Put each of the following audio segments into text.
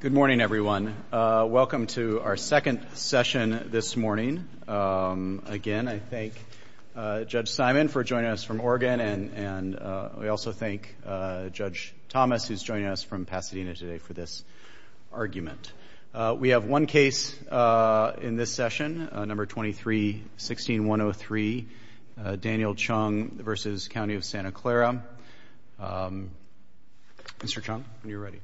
Good morning, everyone. Welcome to our second session this morning. Again, I thank Judge Simon for joining us from Oregon, and we also thank Judge Thomas, who's joining us from Pasadena today, for this argument. We have one case in this session, No. 23-16-103, Daniel Chung v. County of Santa Clara. Mr. Chung, you're ready.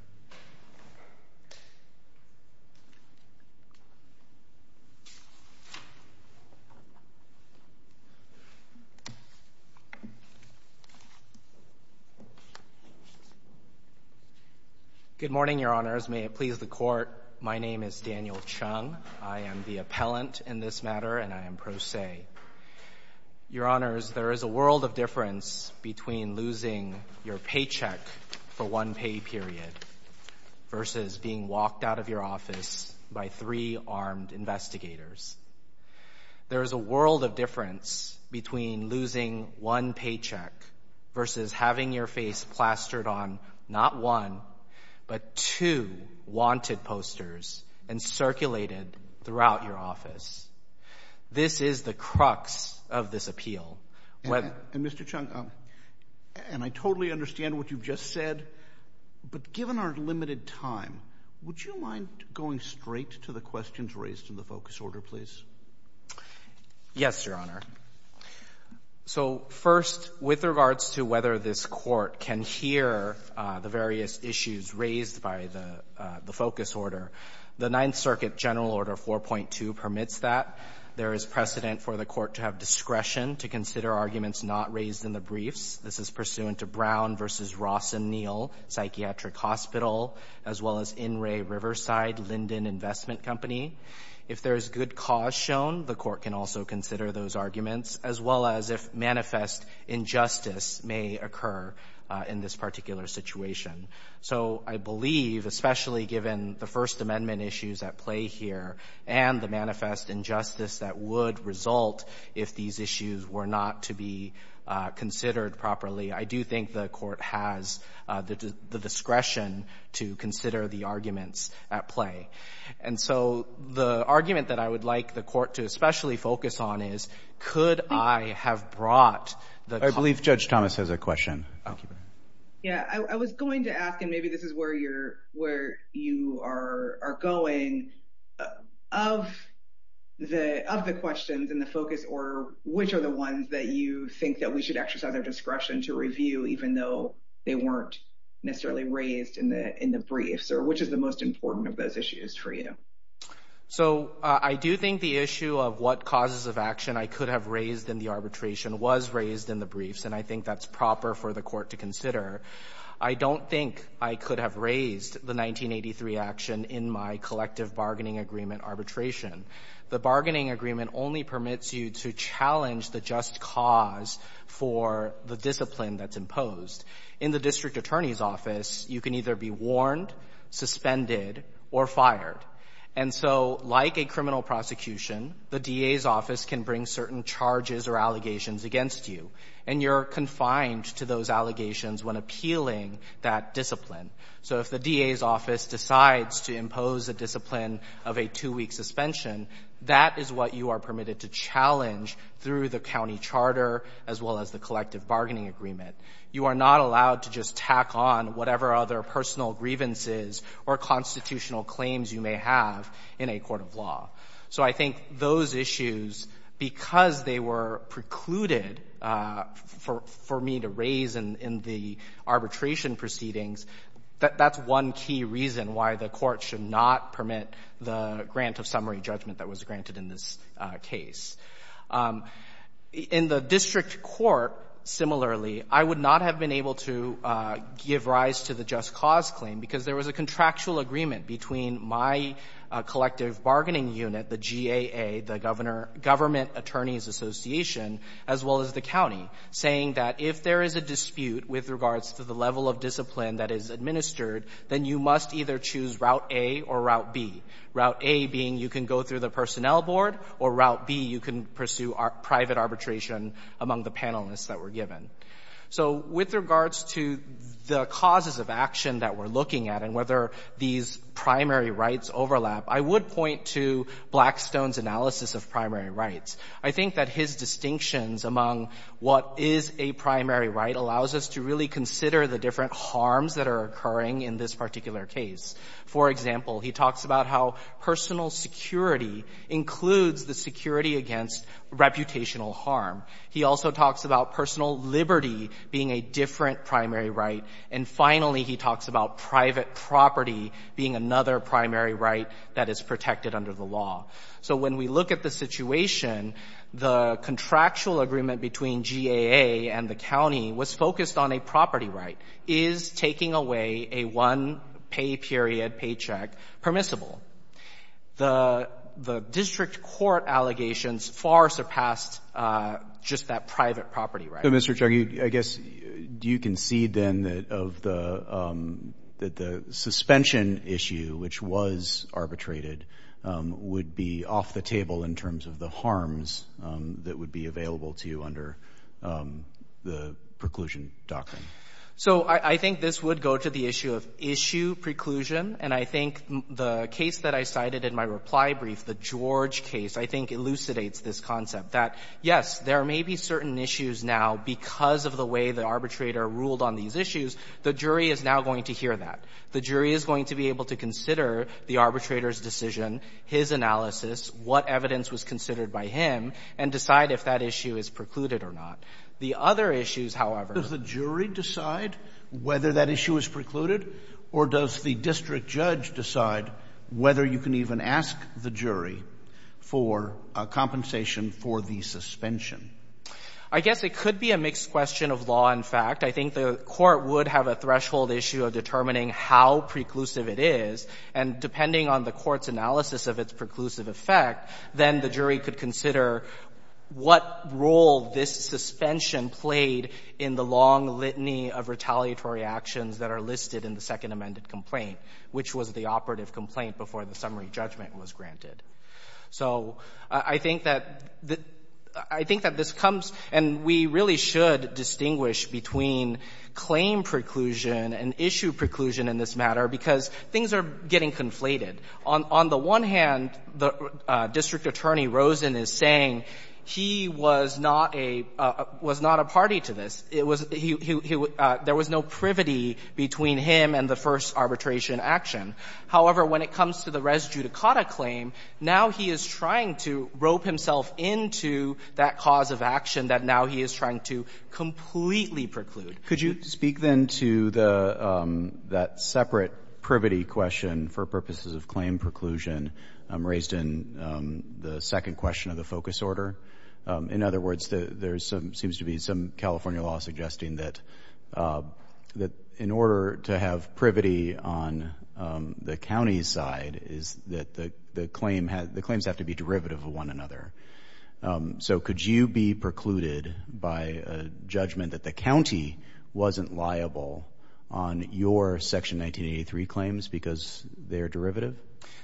Good morning, Your Honors. May it please the Court, my name is Daniel Chung. I am the appellant in this matter, and I am pro se. Your Honors, there is a world of difference between losing your paycheck for one pay period versus being walked out of your office by three armed investigators. There is a world of difference between losing one paycheck versus having your face plastered on, not one, but two wanted posters and circulated throughout your office. This is the crux of this appeal. And, Mr. Chung, and I totally understand what you've just said, but given our limited time, would you mind going straight to the questions raised in the focus order, please? Yes, Your Honor. So first, with regards to whether this Court can hear the various issues raised by the focus order, the Ninth Circuit General Order 4.2 permits that. There is precedent for the Court to have discretion to consider arguments not raised in the briefs. This is pursuant to Brown v. Ross and Neal Psychiatric Hospital, as well as In re. Riverside Linden Investment Company. If there is good cause shown, the Court can also consider those arguments, as well as if manifest injustice may occur in this particular situation. So I believe, especially given the First Amendment issues at play here and the manifest injustice that would result if these issues were not to be considered properly, I do think the Court has the discretion to consider the arguments at play. And so the argument that I would like the Court to especially focus on is, could I have brought the concerns? I believe Judge Thomas has a question. Yeah, I was going to ask, and maybe this is where you are going, of the questions in the focus order, which are the ones that you think that we should exercise our discretion to review, even though they weren't necessarily raised in the briefs, or which is the most important of those issues for you? So I do think the issue of what causes of action I could have raised in the arbitration was raised in the briefs, and I think that's proper for the Court to consider. I don't think I could have raised the 1983 action in my collective bargaining agreement arbitration. The bargaining agreement only permits you to challenge the just cause for the discipline that's imposed. In the district attorney's office, you can either be warned, suspended, or fired. And so, like a criminal prosecution, the DA's office can bring certain charges or allegations against you, and you're confined to those allegations when appealing that discipline. So if the DA's office decides to impose a discipline of a two-week suspension, that is what you are permitted to challenge through the county charter, as well as the collective bargaining agreement. You are not allowed to just tack on whatever other personal grievances or constitutional claims you may have in a court of law. So I think those issues, because they were precluded for me to raise in the arbitration proceedings, that's one key reason why the Court should not permit the grant of summary judgment that was granted in this case. In the district court, similarly, I would not have been able to give rise to the just cause claim, because there was a contractual agreement between my collective bargaining unit, the GAA, the Government Attorneys Association, as well as the county, saying that if there is a dispute with regards to the level of discipline that is administered, then you must either choose Route A or Route B, Route A being you can go through the personnel board, or Route B, you can pursue private arbitration among the panelists that were given. So with regards to the causes of action that we're looking at and whether these primary rights overlap, I would point to Blackstone's analysis of primary rights. I think that his distinctions among what is a primary right allows us to really consider the different harms that are occurring in this particular case. For example, he talks about how personal security includes the security against reputational harm. He also talks about personal liberty being a different primary right. And finally, he talks about private property being another primary right that is protected under the law. So when we look at the situation, the contractual agreement between the GAA and the county was focused on a property right. Is taking away a one-pay period paycheck permissible? The district court allegations far surpassed just that private property right. So, Mr. Chugg, I guess, do you concede then that the suspension issue, which was arbitrated, would be off the table in terms of the harms that would be available to you under the preclusion doctrine? So I think this would go to the issue of issue preclusion. And I think the case that I cited in my reply brief, the George case, I think elucidates this concept that, yes, there may be certain issues now because of the way the arbitrator ruled on these issues, the jury is now going to hear that. The jury is going to be able to consider the arbitrator's decision, his analysis, what evidence was considered by him, and decide if that issue is precluded or not. The other issues, however — Does the jury decide whether that issue is precluded, or does the district judge decide whether you can even ask the jury for a compensation for the suspension? I guess it could be a mixed question of law and fact. I think the Court would have a threshold issue of determining how preclusive it is. And depending on the Court's analysis of its preclusive effect, then the jury could consider what role this suspension played in the long litany of retaliatory actions that are listed in the second amended complaint, which was the operative complaint before the summary judgment was granted. So I think that this comes — and we really should distinguish between claim preclusion and issue preclusion in this matter because things are getting conflated. On the one hand, District Attorney Rosen is saying he was not a party to this. It was — there was no privity between him and the first arbitration action. However, when it comes to the res judicata claim, now he is trying to rope himself into that cause of action that now he is trying to completely preclude. Could you speak, then, to that separate privity question for purposes of claim preclusion raised in the second question of the focus order? In other words, there seems to be some California law suggesting that in order to have privity on the county's side is that the claims have to be derivative of one another. So could you be precluded by a judgment that the county wasn't liable on your Section 1983 claims because they are derivative?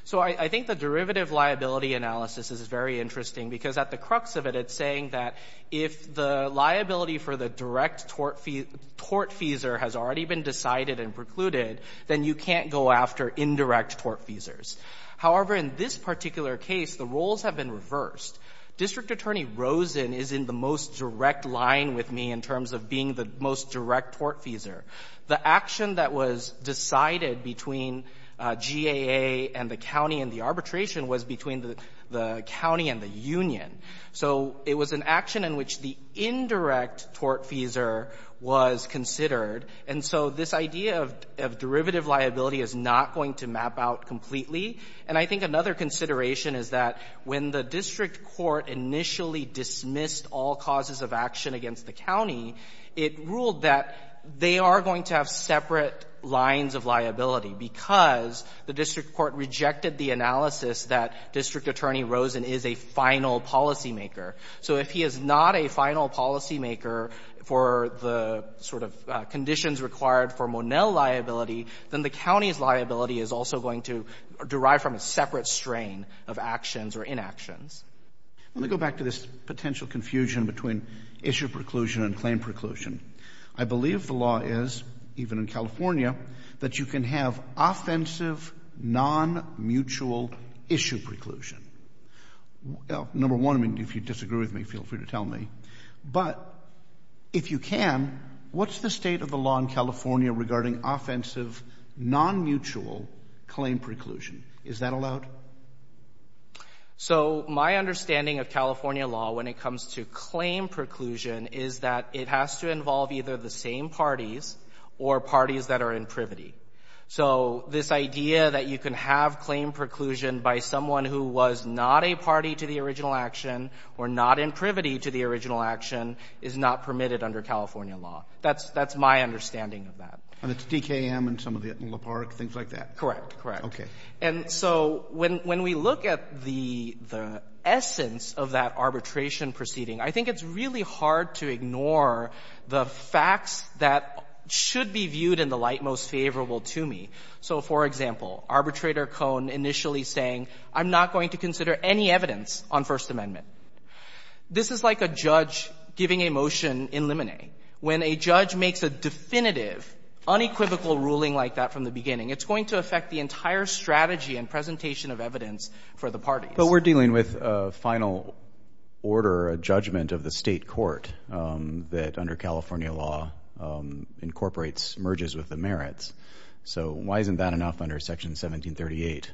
So I think the derivative liability analysis is very interesting because at the crux of it, it's saying that if the liability for the direct tort fees — tort feeser has already been decided and precluded, then you can't go after indirect tort feesers. However, in this particular case, the roles have been reversed. District Attorney Rosen is in the most direct line with me in terms of being the most direct tort feeser. The action that was decided between GAA and the county in the arbitration was between the — the county and the union. So it was an action in which the indirect tort feeser was considered, and so this idea of — of derivative liability is not going to map out completely. And I think another consideration is that when the district court initially dismissed all causes of action against the county, it ruled that they are going to have separate lines of liability because the district court rejected the analysis that District Attorney Rosen is a final policymaker. So if he is not a final policymaker for the sort of conditions required for Monell liability, then the county's liability is also going to derive from a separate strain of actions or inactions. Let me go back to this potential confusion between issue preclusion and claim preclusion. I believe the law is, even in California, that you can have offensive, non-mutual issue preclusion. Number one, I mean, if you disagree with me, feel free to tell me. But if you can, what's the state of the law in California regarding offensive, non-mutual claim preclusion? Is that allowed? So my understanding of California law when it comes to claim preclusion is that it has to involve either the same parties or parties that are in privity. So this idea that you can have claim preclusion by someone who was not a party to the original action or not in privity to the original action is not permitted under California law. That's my understanding of that. And it's DKM and some of the Etinola Park, things like that? Correct. Correct. Okay. And so when we look at the essence of that arbitration proceeding, I think it's really hard to ignore the facts that should be viewed in the light most favorable to me. So, for example, Arbitrator Cohn initially saying, I'm not going to consider any evidence on First Amendment. This is like a judge giving a motion in limine. When a judge makes a definitive, unequivocal ruling like that from the beginning, it's going to affect the entire strategy and presentation of evidence for the parties. But we're dealing with a final order, a judgment of the state court that, under So why isn't that enough under Section 1738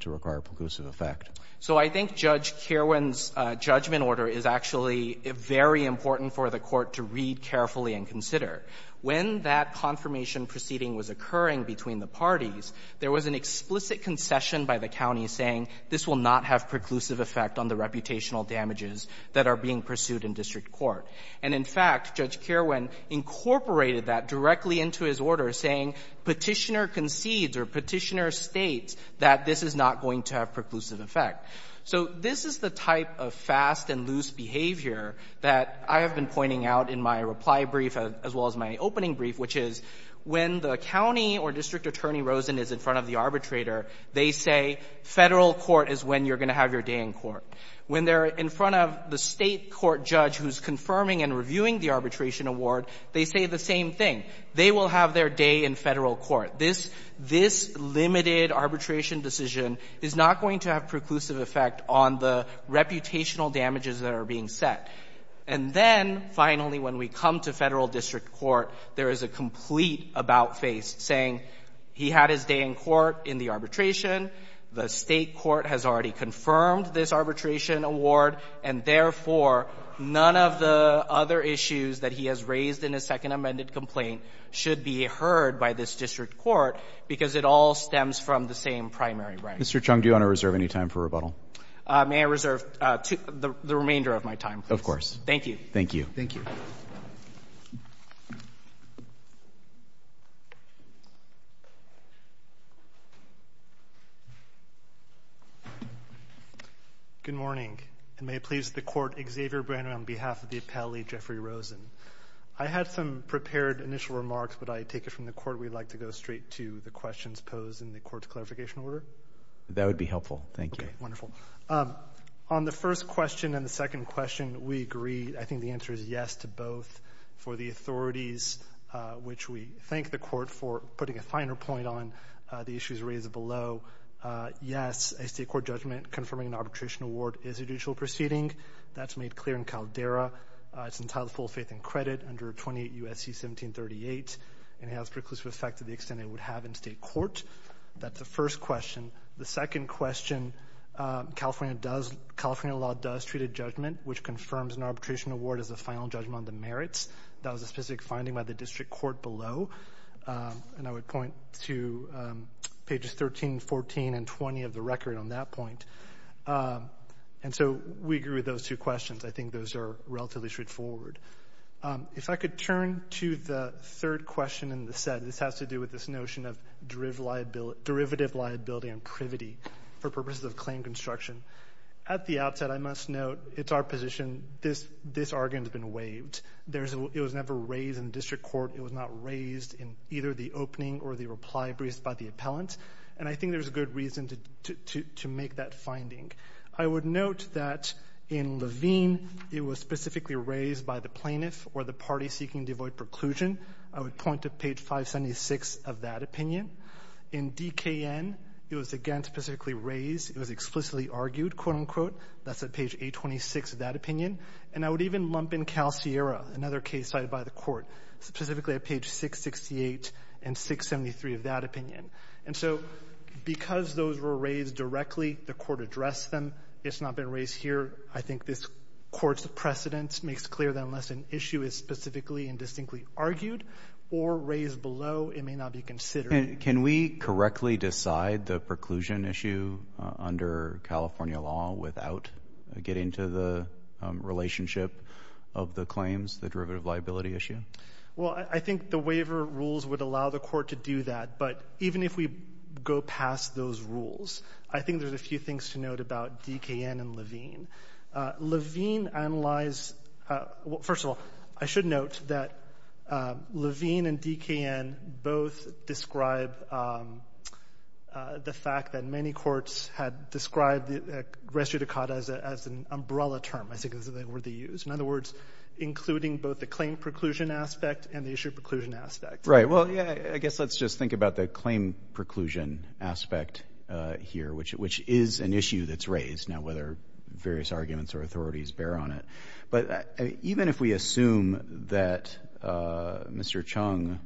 to require preclusive effect? So I think Judge Kerwin's judgment order is actually very important for the court to read carefully and consider. When that confirmation proceeding was occurring between the parties, there was an explicit concession by the county saying this will not have preclusive effect on the reputational damages that are being pursued in district court. And, in fact, Judge Kerwin incorporated that directly into his order, saying Petitioner concedes or Petitioner states that this is not going to have preclusive effect. So this is the type of fast and loose behavior that I have been pointing out in my reply brief as well as my opening brief, which is when the county or district attorney Rosen is in front of the arbitrator, they say Federal court is when you're going to have your day in court. When they're in front of the state court judge who's confirming and reviewing the arbitration award, they say the same thing. They will have their day in Federal court. This limited arbitration decision is not going to have preclusive effect on the reputational damages that are being set. And then, finally, when we come to Federal district court, there is a complete about-face saying he had his day in court in the arbitration, the state court has already confirmed this arbitration award, and, therefore, none of the other issues that he has raised in his second amended complaint should be heard by this district court because it all stems from the same primary right. Mr. Chung, do you want to reserve any time for rebuttal? May I reserve the remainder of my time, please? Of course. Thank you. Thank you. Thank you. Good morning. And may it please the court, Xavier Brand on behalf of the appellee, Jeffrey Rosen. I had some prepared initial remarks, but I take it from the court we'd like to go straight to the questions posed in the court's clarification order? That would be helpful. Thank you. Okay. Wonderful. On the first question and the second question, we agree. I think the answer is yes to both. For the authorities, which we thank the court for putting a finer point on the state court judgment confirming an arbitration award is a judicial proceeding. That's made clear in Caldera. It's entitled Full Faith and Credit under 28 U.S.C. 1738, and it has preclusive effect to the extent it would have in state court. That's the first question. The second question, California law does treat a judgment which confirms an arbitration award as a final judgment on the merits. That was a specific finding by the district court below, and I would point to pages 13, 14, and 20 of the record on that point. And so we agree with those two questions. I think those are relatively straightforward. If I could turn to the third question in the set. This has to do with this notion of derivative liability and privity for purposes of claim construction. At the outset, I must note it's our position this argument has been waived. It was never raised in district court. It was not raised in either the opening or the reply briefs by the appellant. And I think there's good reason to make that finding. I would note that in Levine, it was specifically raised by the plaintiff or the party seeking devoid preclusion. I would point to page 576 of that opinion. In DKN, it was, again, specifically raised. It was explicitly argued, quote, unquote. That's at page 826 of that opinion. And I would even lump in Cal Sierra, another case cited by the court, specifically at page 668 and 673 of that opinion. And so because those were raised directly, the court addressed them. It's not been raised here. I think this Court's precedence makes clear that unless an issue is specifically and distinctly argued or raised below, it may not be considered. And can we correctly decide the preclusion issue under California law without getting to the relationship of the claims, the derivative liability issue? Well, I think the waiver rules would allow the court to do that. But even if we go past those rules, I think there's a few things to note about DKN and Levine. Levine analyzed — well, first of all, I should note that Levine and DKN both describe the fact that many courts had described res judicata as an umbrella term, I think is the word they used. In other words, including both the claim preclusion aspect and the issue preclusion aspect. Right. Well, yeah, I guess let's just think about the claim preclusion aspect here, which is an issue that's raised. Now, whether various arguments or authorities bear on it. But even if we assume that Mr. Chung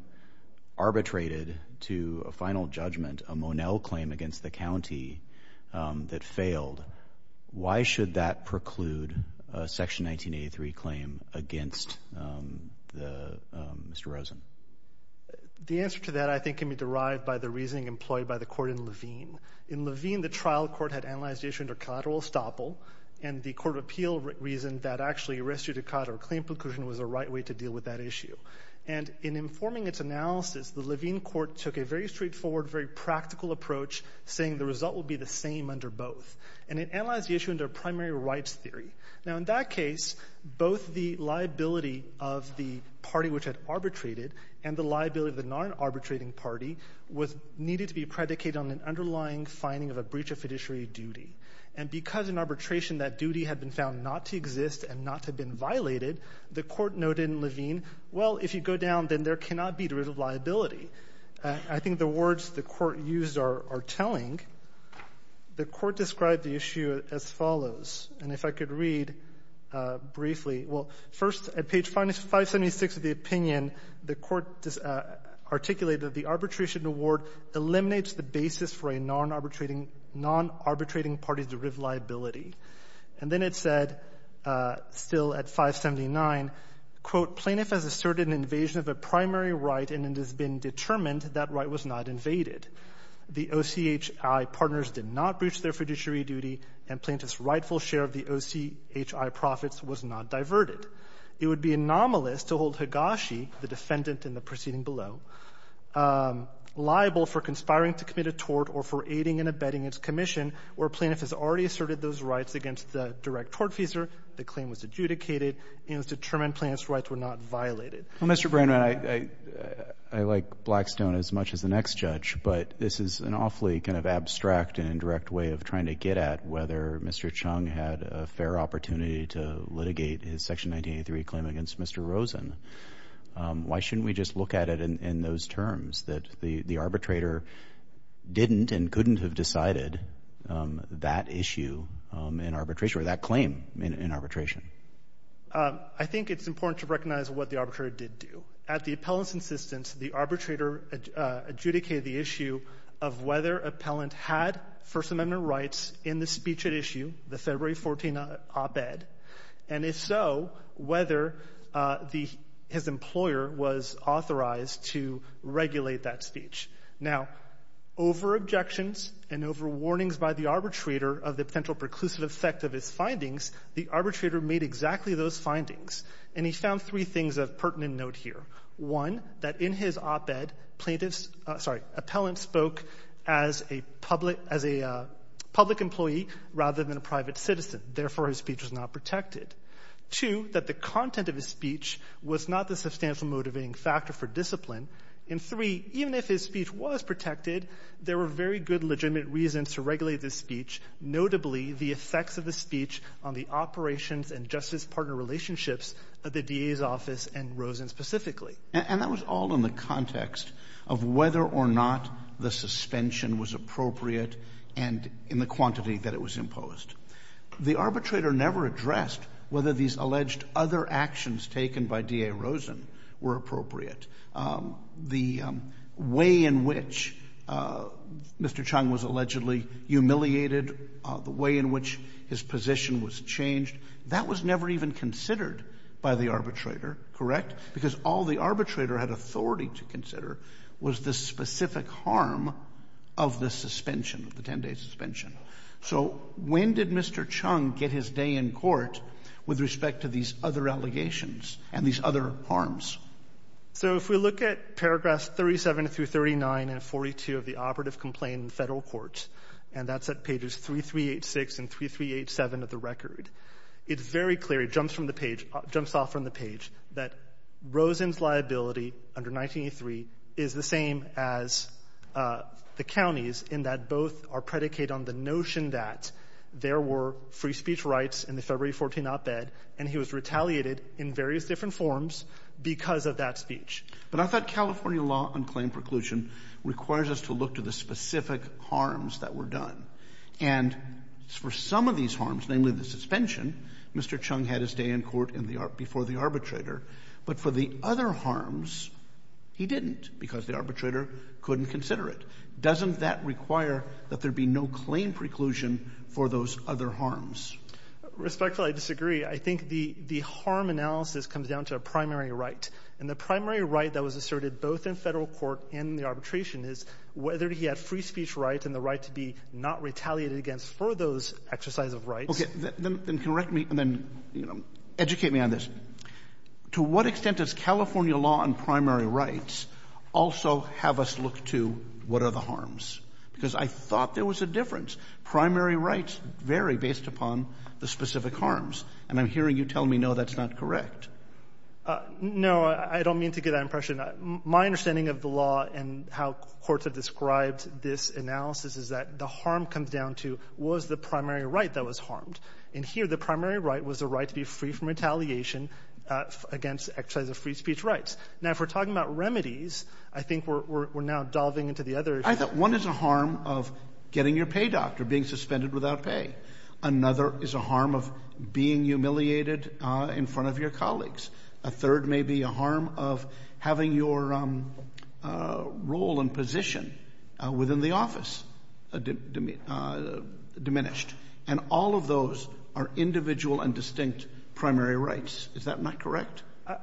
arbitrated to a final judgment, a Monell claim against the county that failed, why should that preclude a Section 1983 claim against Mr. Rosen? The answer to that, I think, can be derived by the reasoning employed by the court in Levine. In Levine, the trial court had analyzed the issue under collateral estoppel, and the court of appeal reasoned that actually res judicata or claim preclusion was the right way to deal with that issue. And in informing its analysis, the Levine court took a very straightforward, very practical approach, saying the result would be the same under both. And it analyzed the issue under primary rights theory. Now, in that case, both the liability of the party which had arbitrated and the liability of the non-arbitrating party needed to be predicated on an underlying finding of a breach of fiduciary duty. And because in arbitration that duty had been found not to exist and not to have been violated, the court noted in Levine, well, if you go down, then there cannot be derivative liability. I think the words the court used are telling. The court described the issue as follows. And if I could read briefly. Well, first, at page 576 of the opinion, the court articulated that the arbitration award eliminates the basis for a non-arbitrating party's derivative liability. And then it said, still at 579, quote, plaintiff has asserted an invasion of a primary right, and it has been determined that right was not invaded. The OCHI partners did not breach their fiduciary duty, and plaintiff's rightful share of the OCHI profits was not diverted. It would be anomalous to hold Higashi, the defendant in the proceeding below, liable for conspiring to commit a tort or for aiding and abetting its commission where plaintiff has already asserted those rights against the direct tort feeser, the claim was adjudicated, and it was determined plaintiff's rights were not violated. Well, Mr. Brennan, I like Blackstone as much as the next judge, but this is an awfully kind of abstract and indirect way of trying to get at whether Mr. Chung had a fair opportunity to litigate his Section 1983 claim against Mr. Rosen. Why shouldn't we just look at it in those terms, that the arbitrator didn't and couldn't have decided that issue in arbitration or that claim in arbitration? I think it's important to recognize what the arbitrator did do. At the appellant's insistence, the arbitrator adjudicated the issue of whether appellant had First Amendment rights in the speech at issue, the February 14 op-ed, and if so, whether the — his employer was authorized to regulate that speech. Now, over objections and over warnings by the arbitrator of the potential preclusive effect of his findings, the arbitrator made exactly those findings, and he found three things of pertinent note here. One, that in his op-ed, plaintiffs — sorry, appellant spoke as a public — as a public employee rather than a private citizen. Therefore, his speech was not protected. Two, that the content of his speech was not the substantial motivating factor for discipline. And three, even if his speech was protected, there were very good legitimate reasons to regulate this speech, notably the effects of the speech on the operations and justice partner relationships of the DA's office and Rosen specifically. And that was all in the context of whether or not the suspension was appropriate and in the quantity that it was imposed. The arbitrator never addressed whether these alleged other actions taken by DA Rosen were appropriate. The way in which Mr. Chung was allegedly humiliated, the way in which his position was changed, that was never even considered by the arbitrator, correct? Because all the arbitrator had authority to consider was the specific harm of the suspension, of the 10-day suspension. So when did Mr. Chung get his day in court with respect to these other allegations and these other harms? So if we look at paragraphs 37 through 39 and 42 of the operative complaint in Federal courts, and that's at pages 3386 and 3387 of the record, it very clearly jumps from the page — jumps off from the page that Rosen's liability under 1983 is the same as the county's in that both are predicated on the notion that there were free speech rights in the February 14 op-ed, and he was retaliated in various different forms because of that speech. But I thought California law on claim preclusion requires us to look to the specific harms that were done. And for some of these harms, namely the suspension, Mr. Chung had his day in court before the arbitrator. But for the other harms, he didn't because the arbitrator couldn't consider it. Doesn't that require that there be no claim preclusion for those other harms? Respectfully, I disagree. I think the harm analysis comes down to a primary right. And the primary right that was asserted both in Federal court and in the arbitration is whether he had free speech rights and the right to be not retaliated against for those exercise of rights. Okay. Then correct me, and then, you know, educate me on this. To what extent does California law on primary rights also have us look to what are the harms? Because I thought there was a difference. Primary rights vary based upon the specific harms. And I'm hearing you telling me, no, that's not correct. No, I don't mean to give that impression. My understanding of the law and how courts have described this analysis is that the harm comes down to was the primary right that was harmed. And here, the primary right was the right to be free from retaliation against exercise of free speech rights. Now, if we're talking about remedies, I think we're now delving into the other issues. I thought one is a harm of getting your pay doctor, being suspended without pay. Another is a harm of being humiliated in front of your colleagues. A third may be a harm of having your role and position within the office diminished. And all of those are individual and distinct primary rights. Is that not correct?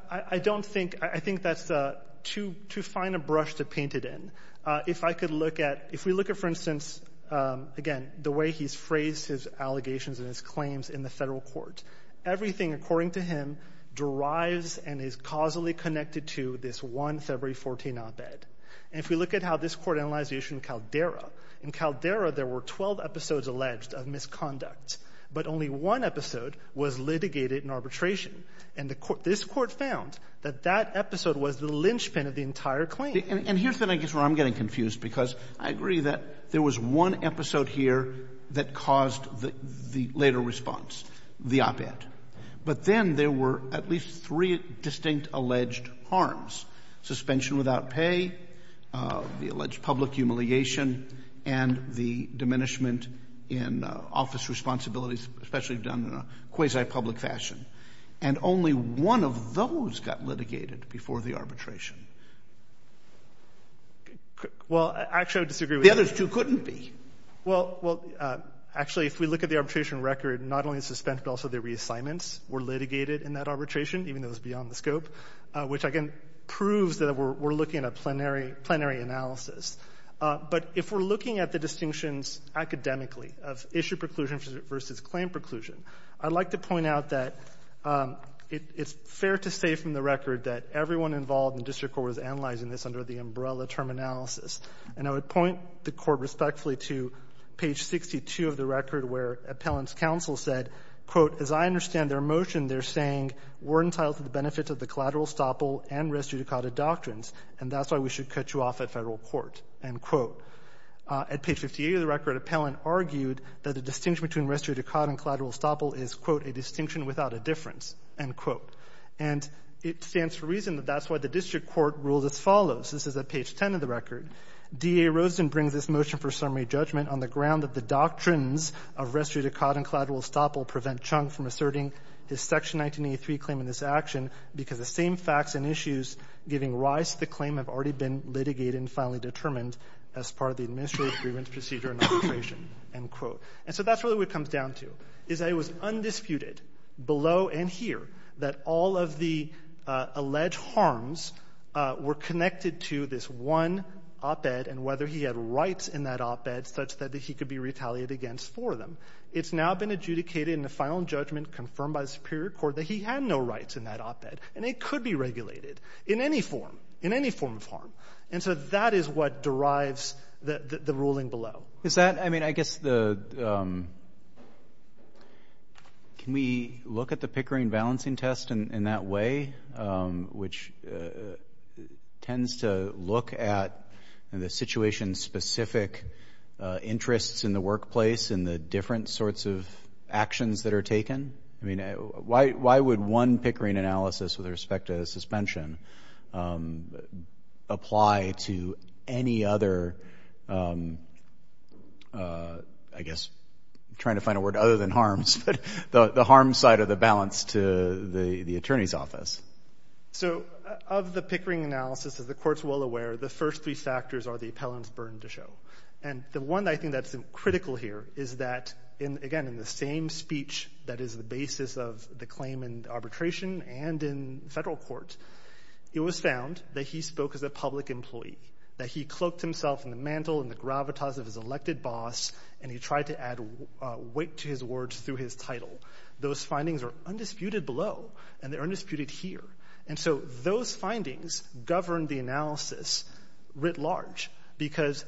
I don't think — I think that's too fine a brush to paint it in. If I could look at — if we look at, for instance, again, the way he's phrased his allegations and his claims in the Federal court, everything, according to him, derives and is causally connected to this one February 14 op-ed. And if we look at how this court analyzed the issue in Caldera, in Caldera, there were 12 episodes alleged of misconduct, but only one episode was litigated in arbitration. And the court — this court found that that episode was the linchpin of the entire claim. And here's the thing, I guess, where I'm getting confused, because I agree that there was one episode here that caused the later response, the op-ed. But then there were at least three distinct alleged harms, suspension without pay, the alleged public humiliation, and the diminishment in office responsibilities, especially done in a quasi-public fashion. And only one of those got litigated before the arbitration. Well, actually, I would disagree with that. The others, too, couldn't be. Well, well, actually, if we look at the arbitration record, not only the suspension, but also the reassignments, were litigated in that arbitration, even though it was beyond the scope, which, again, proves that we're looking at a plenary analysis. But if we're looking at the distinctions academically of issue preclusion versus claim preclusion, I'd like to point out that it's fair to say from the record that everyone involved in district court was analyzing this under the umbrella term analysis. And I would point the Court respectfully to page 62 of the record where Appellant's counsel said, quote, as I understand their motion, they're saying, we're entitled to the benefits of the collateral estoppel and res judicata doctrines, and that's why we should cut you off at federal court, end quote. At page 58 of the record, Appellant argued that the distinction between res judicata and collateral estoppel is, quote, a distinction without a difference, end quote. And it stands to reason that that's why the district court ruled as follows. This is at page 10 of the record. D.A. Roseden brings this motion for summary judgment on the ground that the doctrines of res judicata and collateral estoppel prevent Chung from asserting his Section 1983 claim in this action because the same facts and issues giving rise to the claim have already been litigated and finally determined as part of the administrative agreements procedure in operation, end quote. And so that's really what it comes down to, is that it was undisputed below and here that all of the alleged harms were connected to this one op-ed and whether he had rights in that op-ed such that he could be retaliated against for them. It's now been adjudicated in the final judgment confirmed by the Superior Court that he had no rights in that op-ed. And it could be regulated in any form, in any form of harm. And so that is what derives the ruling below. I mean, I guess the – can we look at the Pickering balancing test in that way, which tends to look at the situation-specific interests in the workplace and the different sorts of actions that are taken? I mean, why would one Pickering analysis with respect to suspension apply to any other, I guess, I'm trying to find a word other than harms, but the harm side of the balance to the Attorney's Office? So of the Pickering analysis, as the Court's well aware, the first three factors are the appellant's burden to show. And the one I think that's critical here is that, again, in the same speech that is the basis of the claim in arbitration and in federal court, it was found that he spoke as a public employee, that he cloaked himself in the mantle and the gravitas of his elected boss and he tried to add weight to his words through his title. Those findings are undisputed below and they're undisputed here. And so those findings govern the analysis writ large because,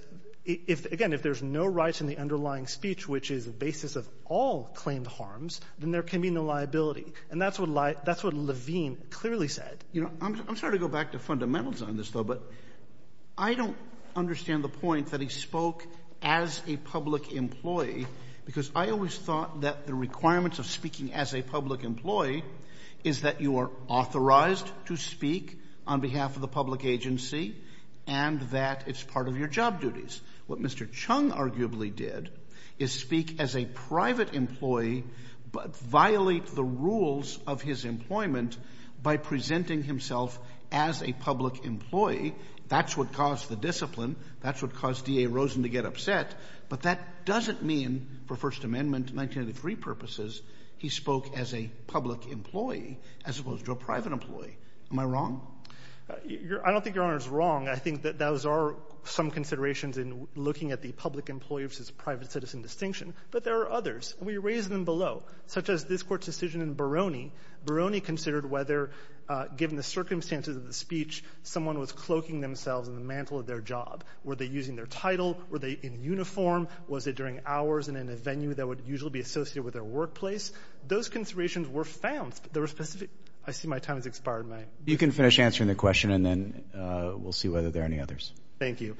again, if there's no rights in the underlying speech, which is the basis of all claimed harms, then there can be no liability. And that's what Levine clearly said. You know, I'm sorry to go back to fundamentals on this, though, but I don't understand the point that he spoke as a public employee because I always thought that the requirements of speaking as a public employee is that you are authorized to speak on behalf of the public agency and that it's part of your job duties. What Mr. Chung arguably did is speak as a private employee but violate the rules of his employment by presenting himself as a public employee. That's what caused the discipline. That's what caused D.A. Rosen to get upset. But that doesn't mean, for First Amendment 1983 purposes, he spoke as a public employee as opposed to a private employee. Am I wrong? I don't think Your Honor is wrong. I think that those are some considerations in looking at the public employee versus private citizen distinction. But there are others. We raised them below, such as this Court's decision in Barone. Barone considered whether, given the circumstances of the speech, someone was cloaking themselves in the mantle of their job. Were they using their title? Were they in uniform? Was it during hours and in a venue that would usually be associated with their workplace? Those considerations were found. But there were specific... I see my time has expired, Mike. You can finish answering the question and then we'll see whether there are any others. Thank you.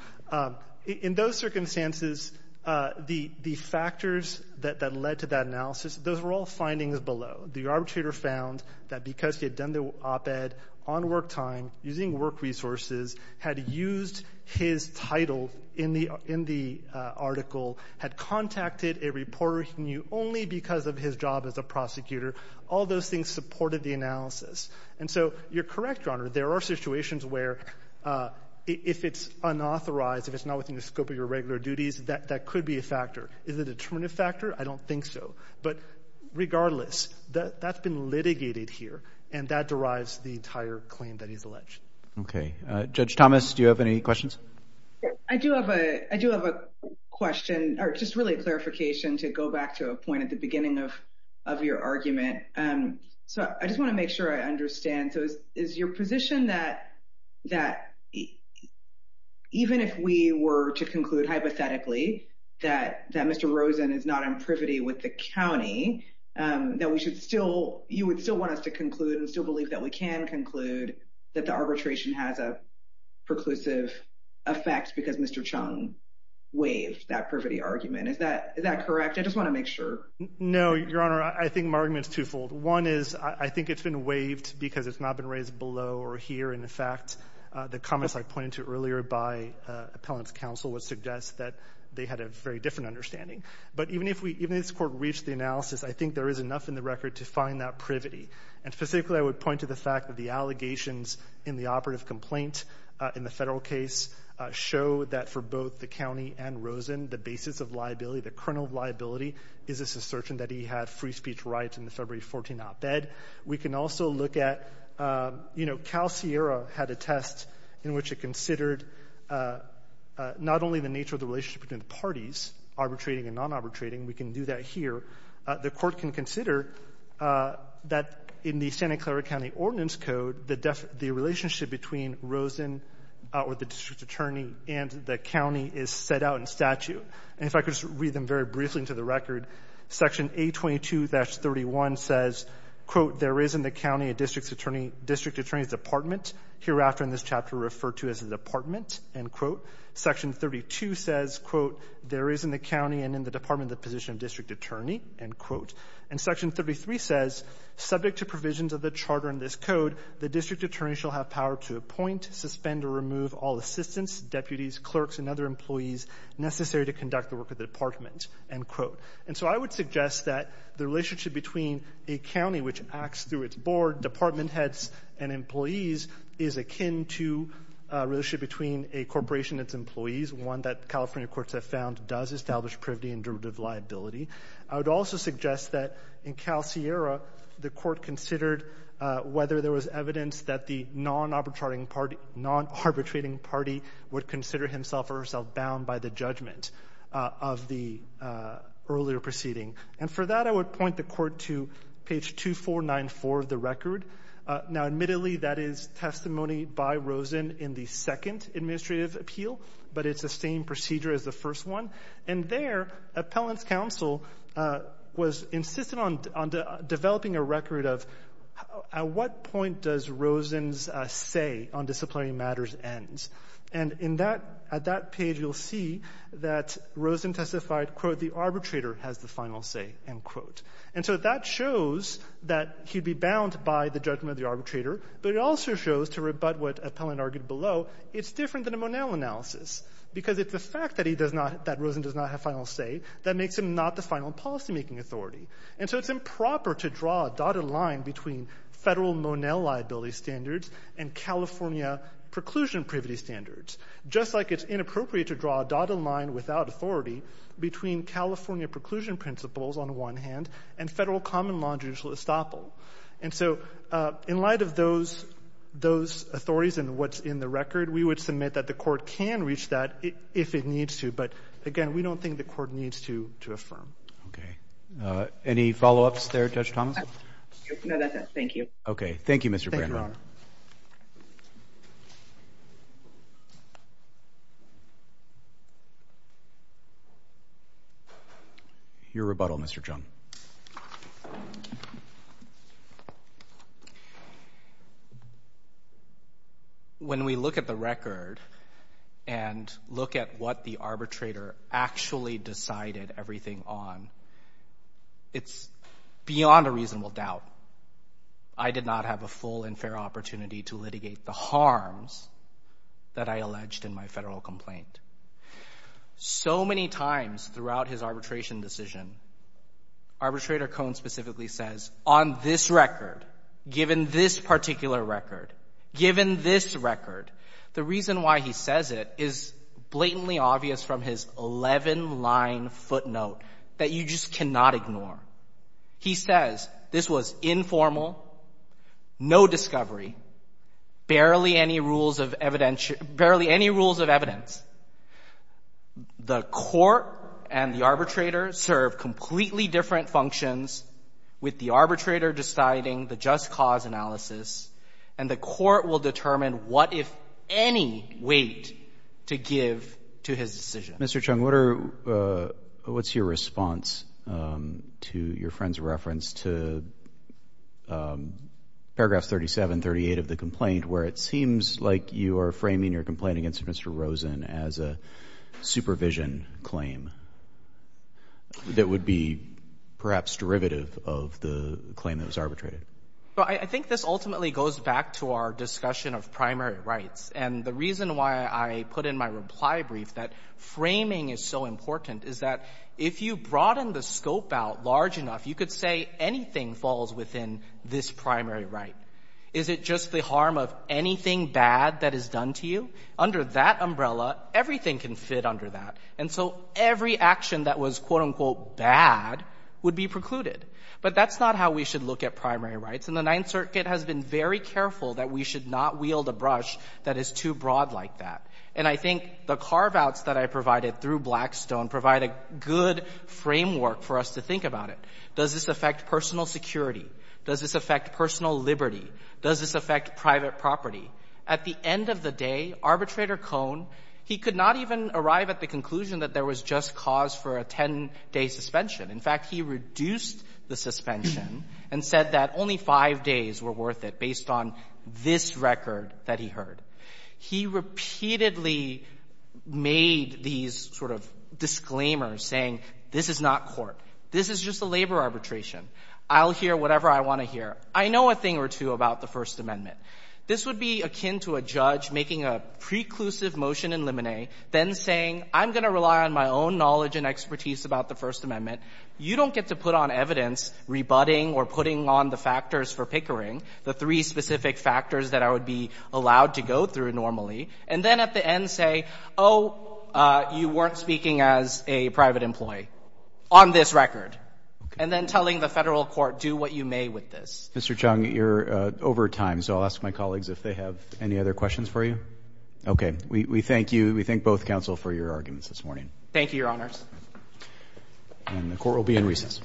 In those circumstances, the factors that led to that analysis, those were all findings below. The arbitrator found that because he had done the op-ed on work time, using work resources, had used his title in the article, had contacted a reporter he knew only because of his job as a prosecutor, all those things supported the analysis. And so you're correct, Your Honor, there are situations where if it's unauthorized, if it's not within the scope of your regular duties, that could be a factor. Is it a determinative factor? I don't think so. But regardless, that's been litigated here, and that derives the entire claim that he's alleged. Okay. Judge Thomas, do you have any questions? I do have a question, or just really a clarification to go back to a point at the beginning of your argument. So I just want to make sure I understand. So is your position that even if we were to conclude hypothetically that Mr. Rosen is not on privity with the county, that you would still want us to conclude and still believe that we can conclude that the arbitration has a preclusive effect because Mr. Chung waived that privity argument? Is that correct? I just want to make sure. No, Your Honor, I think my argument's twofold. One is I think it's been waived because it's not been raised below or here. In fact, the comments I pointed to earlier by appellant's counsel would suggest that they had a very different understanding. But even if this court reached the analysis, I think there is enough in the record to find that privity. And specifically, I would point to the fact that the allegations in the operative complaint in the Federal case show that for both the county and Rosen, the basis of liability, the kernel of liability, is this assertion that he had free speech rights in the February 14 op-ed. We can also look at, you know, Cal Sierra had a test in which it considered not only the nature of the relationship between the parties, arbitrating and non-arbitrating we can do that here, the court can consider that in the Santa Clara County Ordinance Code, the relationship between Rosen or the district attorney and the county is set out in statute. And if I could just read them very briefly into the record. Section 822-31 says, quote, there is in the county a district attorney's department, hereafter in this chapter referred to as a department, end quote. Section 32 says, quote, there is in the county and in the department the position of district attorney, end quote. And section 33 says, subject to provisions of the charter in this code, the district attorney shall have power to appoint, suspend, or remove all assistants, deputies, clerks, and other employees necessary to conduct the work of the department, end quote. And so I would suggest that the relationship between a county which acts through its board, department heads, and employees is akin to a relationship between a corporation and its employees, one that California courts have found does establish privity and derivative liability. I would also suggest that in Cal Sierra, the court considered whether there was evidence that the non-arbitrating party would consider himself or herself bound by the judgment of the earlier proceeding. And for that, I would point the court to page 2494 of the record. Now, admittedly, that is testimony by Rosen in the second administrative appeal, but it's the same procedure as the first one. And there, appellant's counsel was insistent on developing a record of at what point does Rosen's say on disciplinary matters end. And in that at that page, you'll see that Rosen testified, quote, the arbitrator has the final say, end quote. And so that shows that he'd be bound by the judgment of the arbitrator, but it also shows to rebut what appellant argued below, it's different than a Monell analysis, because it's the fact that he does not that Rosen does not have final say that makes him not the final policymaking authority. And so it's improper to draw a dotted line between Federal Monell liability standards and California preclusion privity standards, just like it's inappropriate to draw a dotted line without authority between California preclusion principles on one hand and Federal common law judicial estoppel. And so in light of those authorities and what's in the record, we would submit that the court can reach that if it needs to. But, again, we don't think the court needs to affirm. Okay. Any follow-ups there, Judge Thomas? No, that's it. Thank you. Okay. Thank you, Mr. Brandenburg. Mr. Sarna. Your rebuttal, Mr. Chung. When we look at the record and look at what the arbitrator actually decided everything on, it's beyond a reasonable doubt. I did not have a full and fair opportunity to litigate the harms that I alleged in my Federal complaint. So many times throughout his arbitration decision, arbitrator Cohn specifically says, on this record, given this particular record, given this record, the reason why he says it is blatantly obvious from his 11-line footnote that you just cannot ignore. He says this was informal, no discovery, barely any rules of evidence. The court and the arbitrator serve completely different functions with the arbitrator deciding the just cause analysis, and the court will determine what, if any, weight to give to his decision. Mr. Chung, what's your response to your friend's reference to Paragraph 37, 38 of the complaint, where it seems like you are framing your complaint against Mr. Rosen as a supervision claim that would be, perhaps, derivative of the claim that was arbitrated? Well, I think this ultimately goes back to our discussion of primary rights. And the reason why I put in my reply brief that framing is so important is that if you broaden the scope out large enough, you could say anything falls within this primary right. Is it just the harm of anything bad that is done to you? Under that umbrella, everything can fit under that. And so every action that was, quote, unquote, bad would be precluded. But that's not how we should look at primary rights. And the Ninth Circuit has been very careful that we should not wield a brush that is too broad like that. And I think the carve-outs that I provided through Blackstone provide a good framework for us to think about it. Does this affect personal security? Does this affect personal liberty? Does this affect private property? At the end of the day, Arbitrator Cohn, he could not even arrive at the conclusion that there was just cause for a 10-day suspension. In fact, he reduced the suspension and said that only five days were worth it based on this record that he heard. He repeatedly made these sort of disclaimers saying, this is not court. This is just a labor arbitration. I'll hear whatever I want to hear. I know a thing or two about the First Amendment. This would be akin to a judge making a preclusive motion in limine, then saying, I'm going to rely on my own knowledge and expertise about the First Amendment. You don't get to put on evidence rebutting or putting on the factors for pickering, the three specific factors that I would be allowed to go through normally, and then at the end say, oh, you weren't speaking as a private employee on this record, and then telling the federal court, do what you may with this. Mr. Chung, you're over time, so I'll ask my colleagues if they have any other questions for you. Okay. We thank you. We thank both counsel for your arguments this morning. Thank you, Your Honors. And the court will be in recess.